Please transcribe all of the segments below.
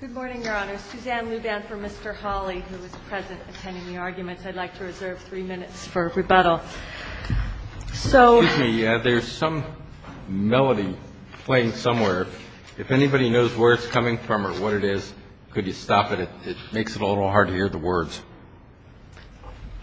Good morning, Your Honor. Suzanne Luban for Mr. Hawley, who is present attending the arguments. I'd like to reserve three minutes for rebuttal. So Excuse me. There's some melody playing somewhere. If anybody knows where it's coming from or what it is, could you stop it? It makes it a little hard to hear the words.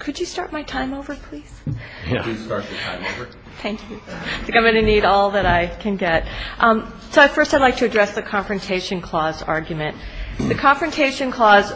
Could you start my time over, please? Please start your time over. Thank you. I think I'm going to need all that I can get. So first I'd like to address the Confrontation Clause argument. The Confrontation Clause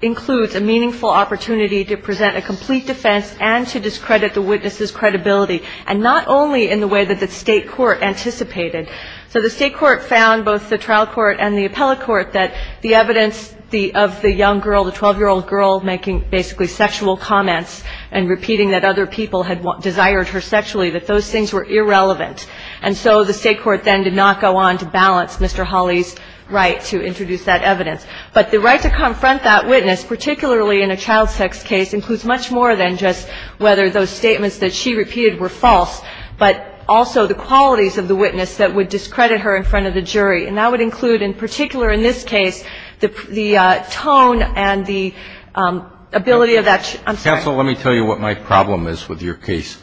includes a meaningful opportunity to present a complete defense and to discredit the witness's credibility, and not only in the way that the state court anticipated. So the state court found, both the trial court and the appellate court, that the evidence of the young girl, the 12-year-old girl, making basically sexual comments and repeating that other people had desired her sexually, that those things were irrelevant. And so the state court then did not go on to balance Mr. Hawley's right to introduce that evidence. But the right to confront that witness, particularly in a child sex case, includes much more than just whether those statements that she repeated were false, but also the qualities of the witness that would discredit her in front of the jury. And that would include, in particular in this case, the tone and the ability of that. I'm sorry. Counsel, let me tell you what my problem is with your case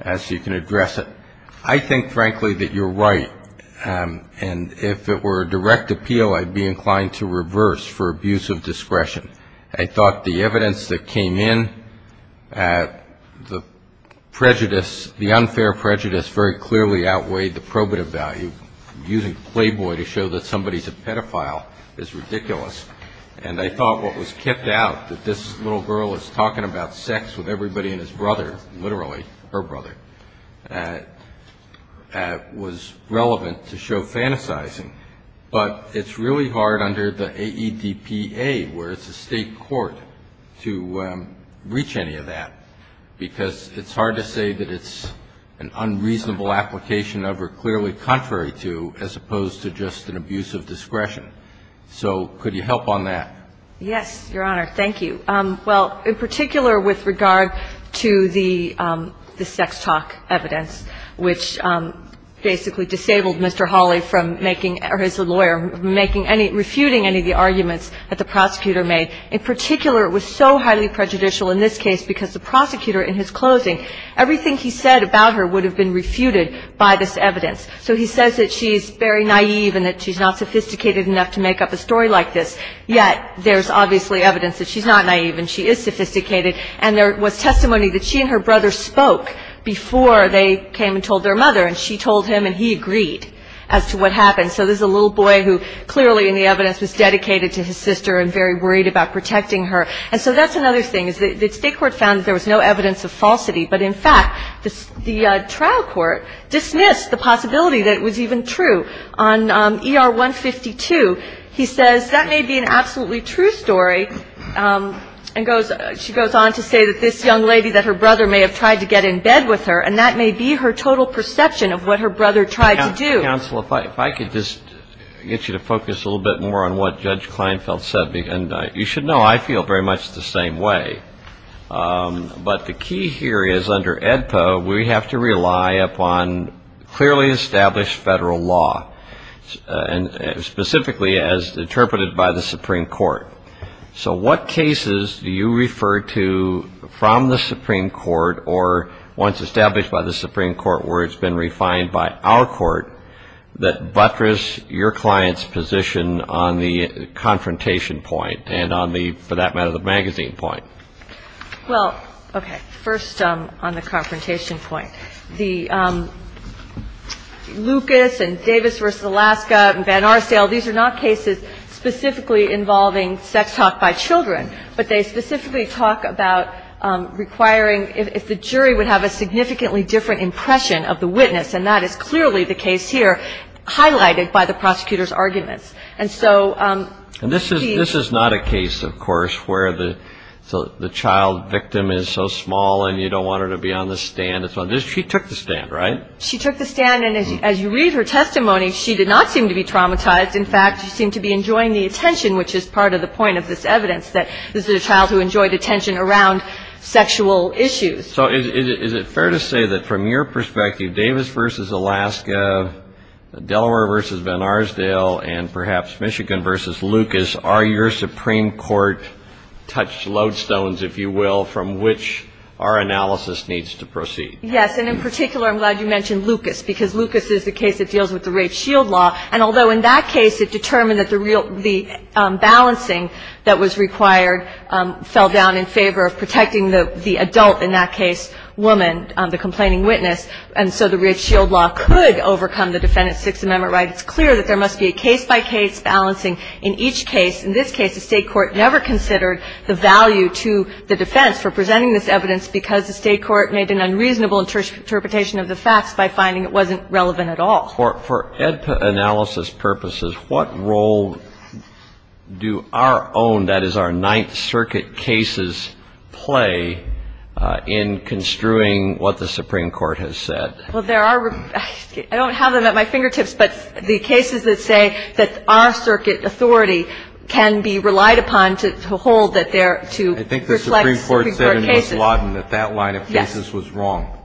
as you can address it. I think, frankly, that you're right. And if it were a direct appeal, I'd be inclined to reverse for abuse of discretion. I thought the evidence that came in, the prejudice, the unfair prejudice very clearly outweighed the probative value. Using playboy to show that somebody's a pedophile is ridiculous. And I thought what was kept out, that this little girl is talking about sex with everybody and his brother, literally her brother, was relevant to show fantasizing. But it's really hard under the AEDPA, where it's a state court, to reach any of that, because it's hard to say that it's an unreasonable application of or clearly contrary to, as opposed to just an abuse of discretion. So could you help on that? Yes, Your Honor. Thank you. Well, in particular with regard to the sex talk evidence, which basically disabled Mr. Hawley from making, or his lawyer, making any, refuting any of the arguments that the prosecutor made. In particular, it was so highly prejudicial in this case because the prosecutor in his closing, everything he said about her would have been refuted by this evidence. So he says that she's very naive and that she's not sophisticated enough to make up a story like this. Yet there's obviously evidence that she's not naive and she is sophisticated. And there was testimony that she and her brother spoke before they came and told their mother. And she told him and he agreed as to what happened. So this is a little boy who clearly in the evidence was dedicated to his sister and very worried about protecting her. And so that's another thing, is the state court found that there was no evidence of falsity. But, in fact, the trial court dismissed the possibility that it was even true. On ER 152, he says that may be an absolutely true story. And she goes on to say that this young lady, that her brother may have tried to get in bed with her, and that may be her total perception of what her brother tried to do. Counsel, if I could just get you to focus a little bit more on what Judge Kleinfeld said. And you should know I feel very much the same way. But the key here is under AEDPA, we have to rely upon clearly established federal law, and specifically as interpreted by the Supreme Court. So what cases do you refer to from the Supreme Court or once established by the Supreme Court where it's been refined by our court that buttress your client's position on the confrontation point and on the, for that matter, the magazine point? Well, okay. First on the confrontation point. The Lucas and Davis v. Alaska and Van Arsdale, these are not cases specifically involving sex talk by children, but they specifically talk about requiring if the jury would have a significantly different impression of the witness. And that is clearly the case here highlighted by the prosecutor's arguments. And this is not a case, of course, where the child victim is so small and you don't want her to be on the stand. She took the stand, right? She took the stand, and as you read her testimony, she did not seem to be traumatized. In fact, she seemed to be enjoying the attention, which is part of the point of this evidence that this is a child who enjoyed attention around sexual issues. So is it fair to say that from your perspective, Davis v. Alaska, Delaware v. Van Arsdale, and perhaps Michigan v. Lucas, are your Supreme Court-touched lodestones, if you will, from which our analysis needs to proceed? Yes. And in particular, I'm glad you mentioned Lucas, because Lucas is the case that deals with the rape shield law. And although in that case it determined that the balancing that was required fell down in favor of protecting the adult, in that case, woman, the complaining witness, and so the rape shield law could overcome the Defendant's Sixth Amendment right, it's clear that there must be a case-by-case balancing in each case. In this case, the State court never considered the value to the defense for presenting this evidence because the State court made an unreasonable interpretation of the facts by finding it wasn't relevant at all. For analysis purposes, what role do our own, that is our Ninth Circuit cases, play in construing what the Supreme Court has said? Well, there are – I don't have them at my fingertips, but the cases that say that our circuit authority can be relied upon to hold that they're – to reflect Supreme Court cases. I think the Supreme Court said in Wislodin that that line of cases was wrong. Yes.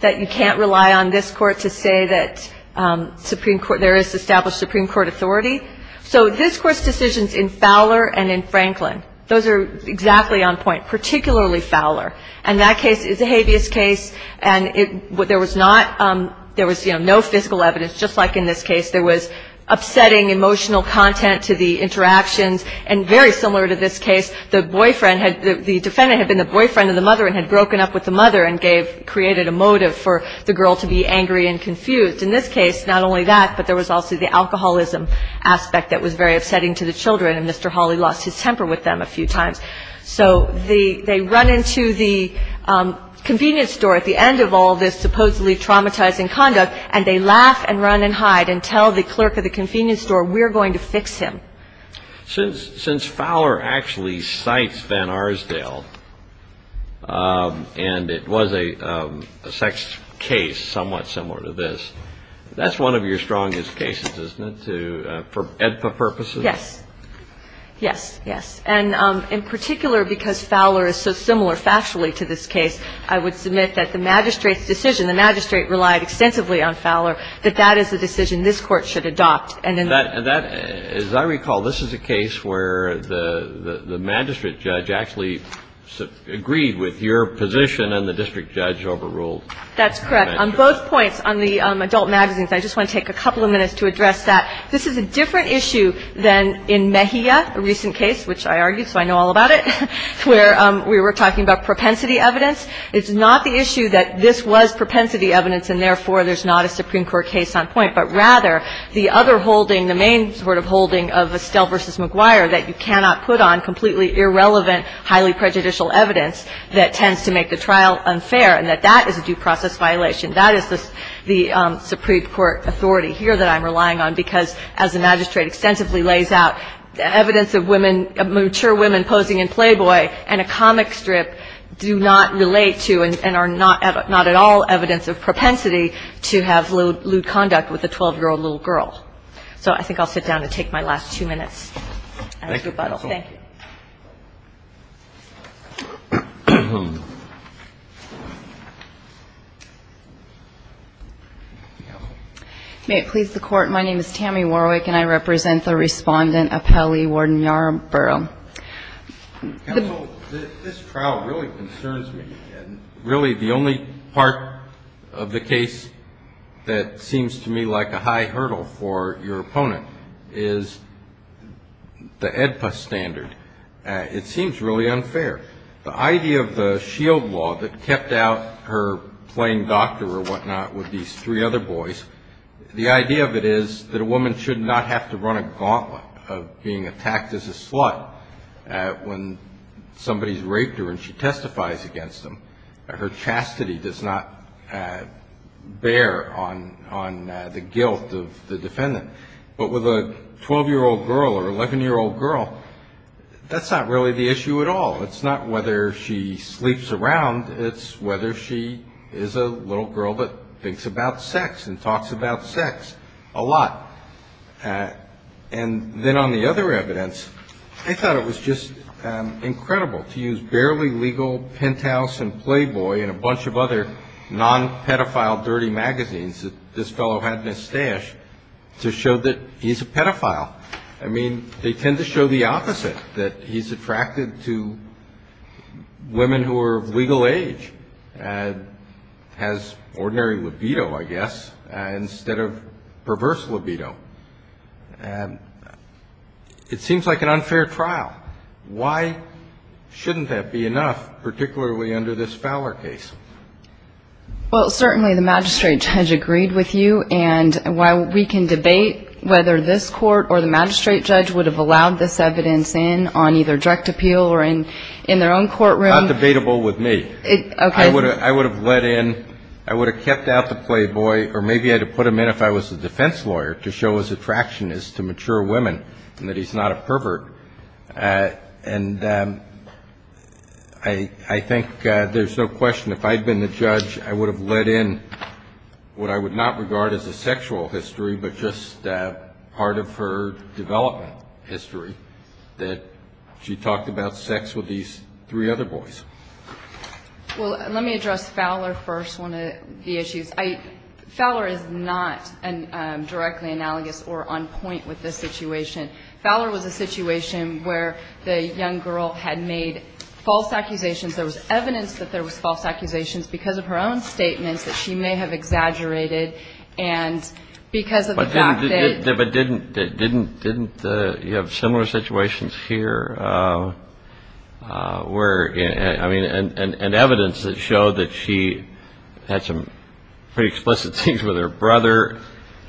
That you can't rely on this Court to say that Supreme – there is established Supreme Court authority. So this Court's decisions in Fowler and in Franklin, those are exactly on point, particularly Fowler. And that case is a habeas case, and it – there was not – there was, you know, no physical evidence. Just like in this case, there was upsetting emotional content to the interactions. And very similar to this case, the boyfriend had – the defendant had been the boyfriend of the mother and had broken up with the mother and gave – created a motive for the girl to be angry and confused. In this case, not only that, but there was also the alcoholism aspect that was very upsetting to the children, and Mr. Hawley lost his temper with them a few times. So the – they run into the convenience store at the end of all this supposedly traumatizing conduct, and they laugh and run and hide and tell the clerk at the convenience store, we're going to fix him. Since Fowler actually cites Van Arsdale, and it was a sex case somewhat similar to this, that's one of your strongest cases, isn't it, to – for EDPA purposes? Yes. Yes, yes. And in particular, because Fowler is so similar factually to this case, I would submit that the magistrate's decision – the magistrate relied extensively on Fowler – that that is the decision this Court should adopt. And that – as I recall, this is a case where the magistrate judge actually agreed with your position and the district judge overruled. That's correct. On both points, on the adult magazines, I just want to take a couple of minutes to address that. This is a different issue than in Mejia, a recent case, which I argued, so I know all about it, where we were talking about propensity evidence. It's not the issue that this was propensity evidence, and therefore there's not a Supreme Court case on point, but rather the other holding, the main sort of holding of Estelle v. McGuire, that you cannot put on completely irrelevant, highly prejudicial evidence that tends to make the trial unfair, and that that is a due process violation. That is the Supreme Court authority here that I'm relying on, because as the magistrate extensively lays out, evidence of women – mature women posing in Playboy and a comic strip do not relate to and are not at all evidence of propensity to have lewd conduct with a 12-year-old little girl. So I think I'll sit down and take my last two minutes as rebuttal. Thank you. May it please the Court. My name is Tammy Warwick, and I represent the Respondent, Appellee, Warden Yarbrough. Counsel, this trial really concerns me, and really the only part of the case that seems to me like a high hurdle for your opponent is the AEDPA standard. It seems really unfair. The idea of the SHIELD law that kept out her playing doctor or whatnot with these three other boys, the idea of it is that a woman should not have to run a gauntlet of being attacked as a slut when somebody's raped her and she testifies against them. Her chastity does not bear on the guilt of the defendant. But with a 12-year-old girl or 11-year-old girl, that's not really the issue at all. It's not whether she sleeps around. It's whether she is a little girl that thinks about sex and talks about sex a lot. And then on the other evidence, I thought it was just incredible to use barely legal penthouse and Playboy and a bunch of other non-pedophile dirty magazines that this fellow had in his stash to show that he's a pedophile. I mean, they tend to show the opposite, that he's attracted to women who are of legal age and has ordinary libido, I guess, instead of perverse libido. It seems like an unfair trial. Why shouldn't that be enough, particularly under this Fowler case? Well, certainly the magistrate judge agreed with you, and while we can debate whether this court or the magistrate judge would have allowed this evidence in on either direct appeal or in their own courtroom. Not debatable with me. Okay. I would have let in, I would have kept out the Playboy, or maybe I'd have put him in if I was a defense lawyer to show his attraction is to mature women and that he's not a pervert. And I think there's no question if I had been the judge, I would have let in what I would not regard as a sexual history, but just part of her development history, that she talked about sex with these three other boys. Well, let me address Fowler first, one of the issues. Fowler is not directly analogous or on point with this situation. Fowler was a situation where the young girl had made false accusations. There was evidence that there was false accusations because of her own statements that she may have exaggerated, and because of the fact that. But didn't you have similar situations here where, I mean, and evidence that showed that she had some pretty explicit things with her brother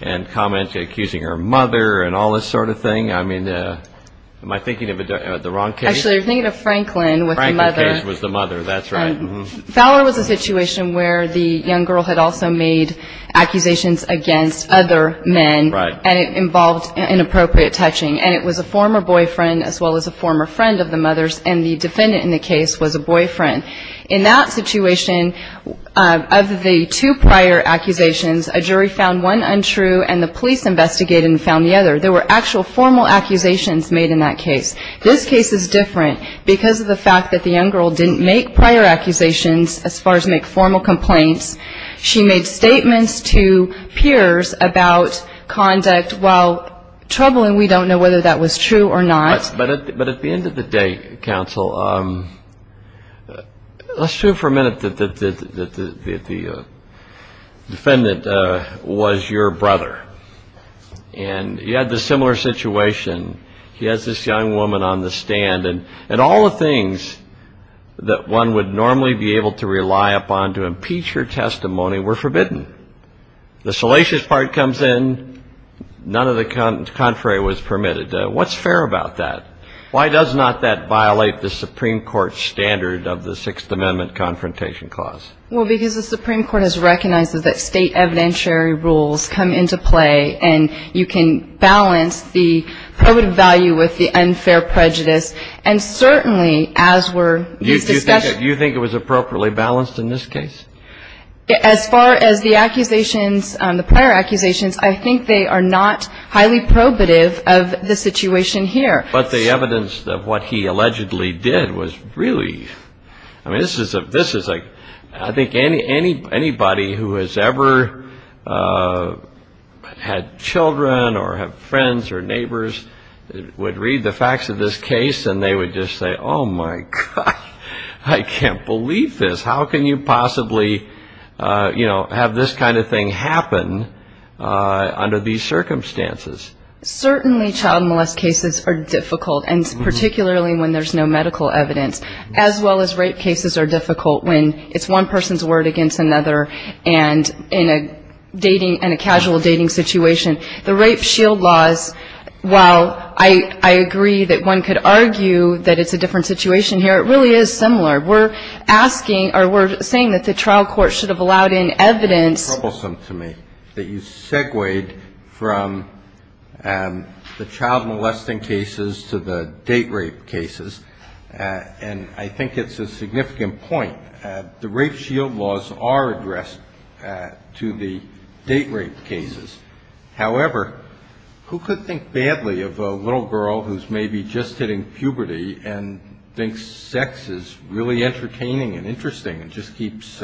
and comments accusing her mother and all this sort of thing? I mean, am I thinking of the wrong case? Actually, you're thinking of Franklin with the mother. Franklin's case was the mother. That's right. Fowler was a situation where the young girl had also made accusations against other men. Right. And it involved inappropriate touching. And it was a former boyfriend as well as a former friend of the mother's, and the defendant in the case was a boyfriend. In that situation, of the two prior accusations, a jury found one untrue and the police investigated and found the other. There were actual formal accusations made in that case. This case is different because of the fact that the young girl didn't make prior accusations as far as make formal complaints. She made statements to peers about conduct while troubling. We don't know whether that was true or not. But at the end of the day, counsel, let's assume for a minute that the defendant was your brother, and you had this similar situation. He has this young woman on the stand, and all the things that one would normally be able to rely upon to impeach her testimony were forbidden. The salacious part comes in. None of the contrary was permitted. What's fair about that? Why does not that violate the Supreme Court standard of the Sixth Amendment Confrontation Clause? Well, because the Supreme Court has recognized that state evidentiary rules come into play, and you can balance the probative value with the unfair prejudice. And certainly, as were these discussions. Do you think it was appropriately balanced in this case? As far as the accusations, the prior accusations, I think they are not highly probative of the situation here. But the evidence of what he allegedly did was really ‑‑ I mean, this is a ‑‑ I think anybody who has ever had children or have friends or neighbors would read the facts of this case, and they would just say, oh, my God, I can't believe this. How can you possibly, you know, have this kind of thing happen under these circumstances? Certainly child molest cases are difficult, and particularly when there's no medical evidence, as well as rape cases are difficult when it's one person's word against another and in a dating, in a casual dating situation. The rape shield laws, while I agree that one could argue that it's a different situation here, it really is similar. We're asking or we're saying that the trial court should have allowed in evidence. It's troublesome to me that you segued from the child molesting cases to the date rape cases, and I think it's a significant point. The rape shield laws are addressed to the date rape cases. However, who could think badly of a little girl who's maybe just hitting puberty and thinks sex is really entertaining and interesting and just keeps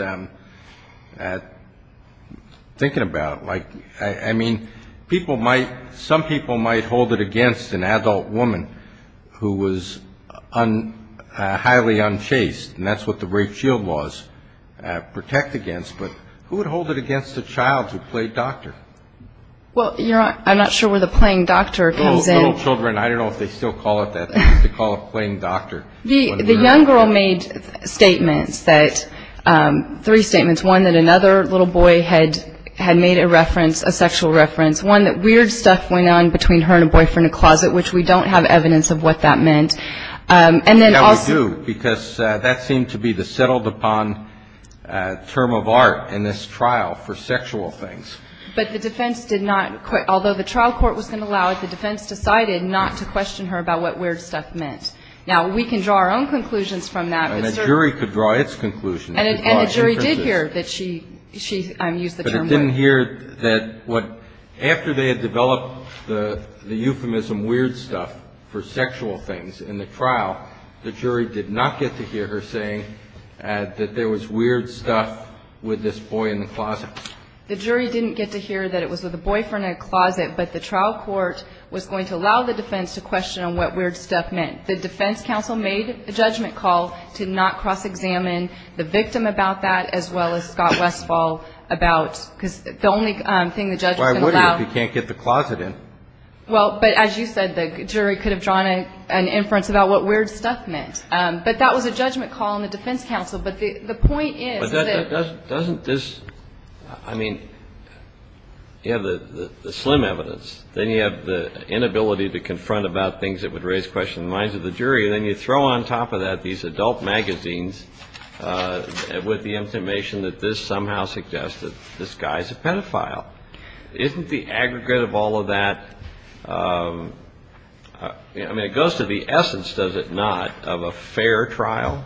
thinking about it? Like, I mean, people might, some people might hold it against an adult woman who was highly unchaste, and that's what the rape shield laws protect against, but who would hold it against a child who played doctor? Well, I'm not sure where the playing doctor comes in. Little children, I don't know if they still call it that. They used to call it playing doctor. The young girl made statements that, three statements. One, that another little boy had made a reference, a sexual reference. One, that weird stuff went on between her and a boyfriend in a closet, which we don't have evidence of what that meant. And then also ñ Yeah, we do, because that seemed to be the settled-upon term of art in this trial for sexual things. But the defense did not ñ although the trial court was going to allow it, the defense decided not to question her about what weird stuff meant. Now, we can draw our own conclusions from that. And the jury could draw its conclusions. And the jury did hear that she used the term weird. But it didn't hear that after they had developed the euphemism weird stuff for sexual things in the trial, the jury did not get to hear her saying that there was weird stuff with this boy in the closet. The jury didn't get to hear that it was with a boyfriend in a closet. But the trial court was going to allow the defense to question on what weird stuff meant. The defense counsel made a judgment call to not cross-examine the victim about that, as well as Scott Westfall, about ñ because the only thing the judge can allow ñ Why would he if he can't get the closet in? Well, but as you said, the jury could have drawn an inference about what weird stuff meant. But that was a judgment call on the defense counsel. But the point is that ñ I mean, you have the slim evidence. Then you have the inability to confront about things that would raise questions in the minds of the jury. And then you throw on top of that these adult magazines with the information that this somehow suggests that this guy is a pedophile. Isn't the aggregate of all of that ñ I mean, it goes to the essence, does it not, of a fair trial?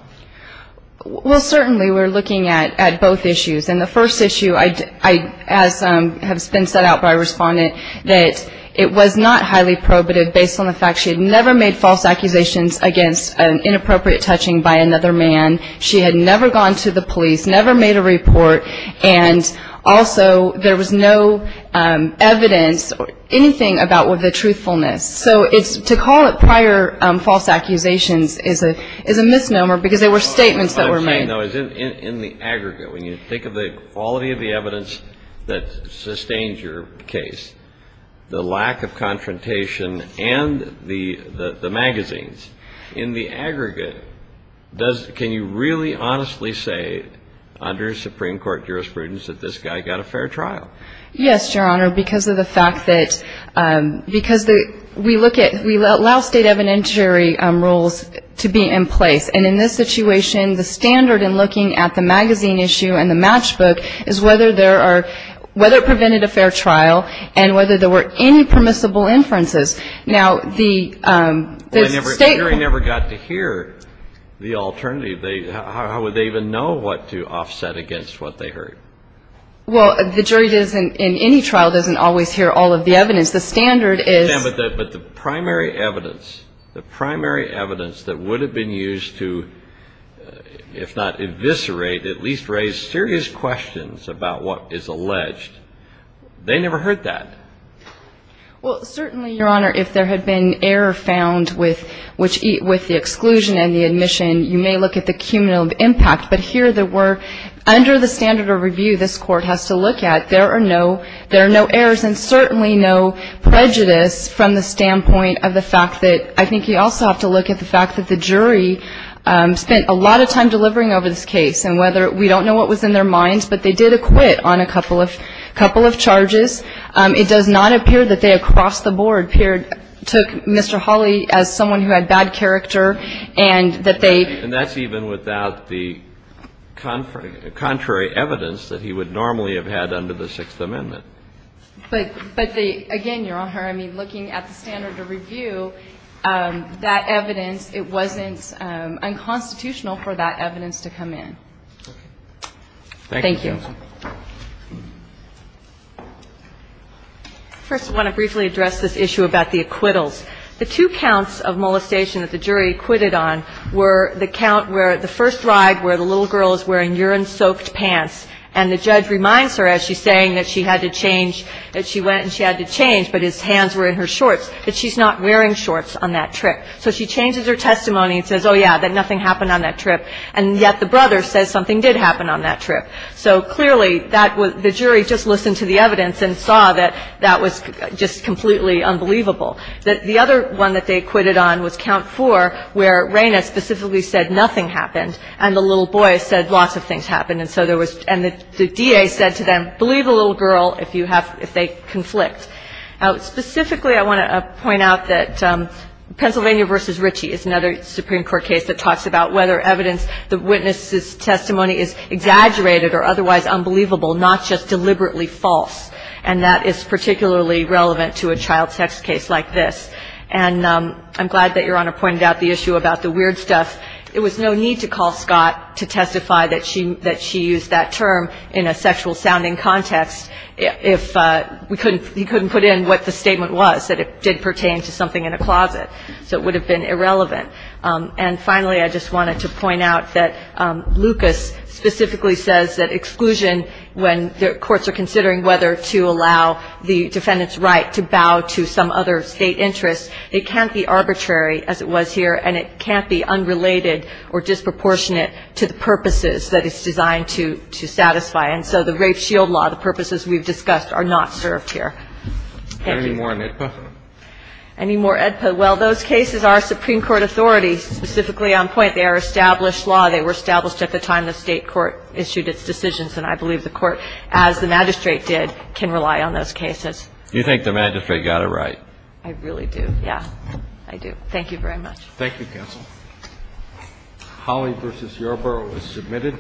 Well, certainly, we're looking at both issues. And the first issue, as has been set out by a respondent, that it was not highly probative, based on the fact she had never made false accusations against an inappropriate touching by another man. She had never gone to the police, never made a report. And also, there was no evidence or anything about the truthfulness. So to call it prior false accusations is a misnomer because they were statements that were made. In the aggregate, when you think of the quality of the evidence that sustains your case, the lack of confrontation and the magazines, in the aggregate, can you really honestly say under Supreme Court jurisprudence that this guy got a fair trial? Yes, Your Honor, because of the fact that ñ because we look at ñ we allow state evidentiary rules to be in place. And in this situation, the standard in looking at the magazine issue and the matchbook is whether there are ñ whether it prevented a fair trial and whether there were any permissible inferences. Now, the state ñ Well, the jury never got to hear the alternative. How would they even know what to offset against what they heard? Well, the jury in any trial doesn't always hear all of the evidence. The standard is ñ Yeah, but the primary evidence, the primary evidence that would have been used to, if not eviscerate, at least raise serious questions about what is alleged, they never heard that. Well, certainly, Your Honor, if there had been error found with the exclusion and the admission, you may look at the cumulative impact. But here there were ñ under the standard of review this Court has to look at, there are no ñ there are no errors and certainly no prejudice from the standpoint of the fact that ñ I think you also have to look at the fact that the jury spent a lot of time delivering over this case and whether ñ we don't know what was in their minds, but they did acquit on a couple of ñ couple of charges. It does not appear that they across the board took Mr. Hawley as someone who had bad character and that they ñ So I don't see any contrary evidence that he would normally have had under the Sixth Amendment. But the ñ again, Your Honor, I mean, looking at the standard of review, that evidence ñ it wasn't unconstitutional for that evidence to come in. Thank you, counsel. Thank you. First, I want to briefly address this issue about the acquittals. The two counts of molestation that the jury acquitted on were the count where the first ride where the little girl is wearing urine-soaked pants, and the judge reminds her, as she's saying that she had to change ñ that she went and she had to change, but his hands were in her shorts, that she's not wearing shorts on that trip. So she changes her testimony and says, oh, yeah, that nothing happened on that trip, and yet the brother says something did happen on that trip. So clearly, that was ñ the jury just listened to the evidence and saw that that was just completely unbelievable. The other one that they acquitted on was count four, where Reyna specifically said nothing happened, and the little boy said lots of things happened. And so there was ñ and the DA said to them, believe the little girl if you have ñ if they conflict. Specifically, I want to point out that Pennsylvania v. Ritchie is another Supreme Court case that talks about whether evidence the witness's testimony is exaggerated or otherwise unbelievable, not just deliberately false. And that is particularly relevant to a child sex case like this. And I'm glad that Your Honor pointed out the issue about the weird stuff. It was no need to call Scott to testify that she used that term in a sexual-sounding context if we couldn't ñ he couldn't put in what the statement was, that it did pertain to something in a closet. So it would have been irrelevant. And finally, I just wanted to point out that Lucas specifically says that exclusion when the courts are considering whether to allow the defendant's right to bow to some other State interest, it can't be arbitrary, as it was here, and it can't be unrelated or disproportionate to the purposes that it's designed to satisfy. And so the Rafe-Shield Law, the purposes we've discussed, are not served here. Thank you. Any more on AEDPA? Any more AEDPA? Well, those cases are Supreme Court authority, specifically on point. They are established law. They were established at the time the State court issued its decisions. And I believe the Court, as the magistrate did, can rely on those cases. You think the magistrate got it right? I really do, yes. I do. Thank you very much. Thank you, counsel. Holley v. Yorba was submitted.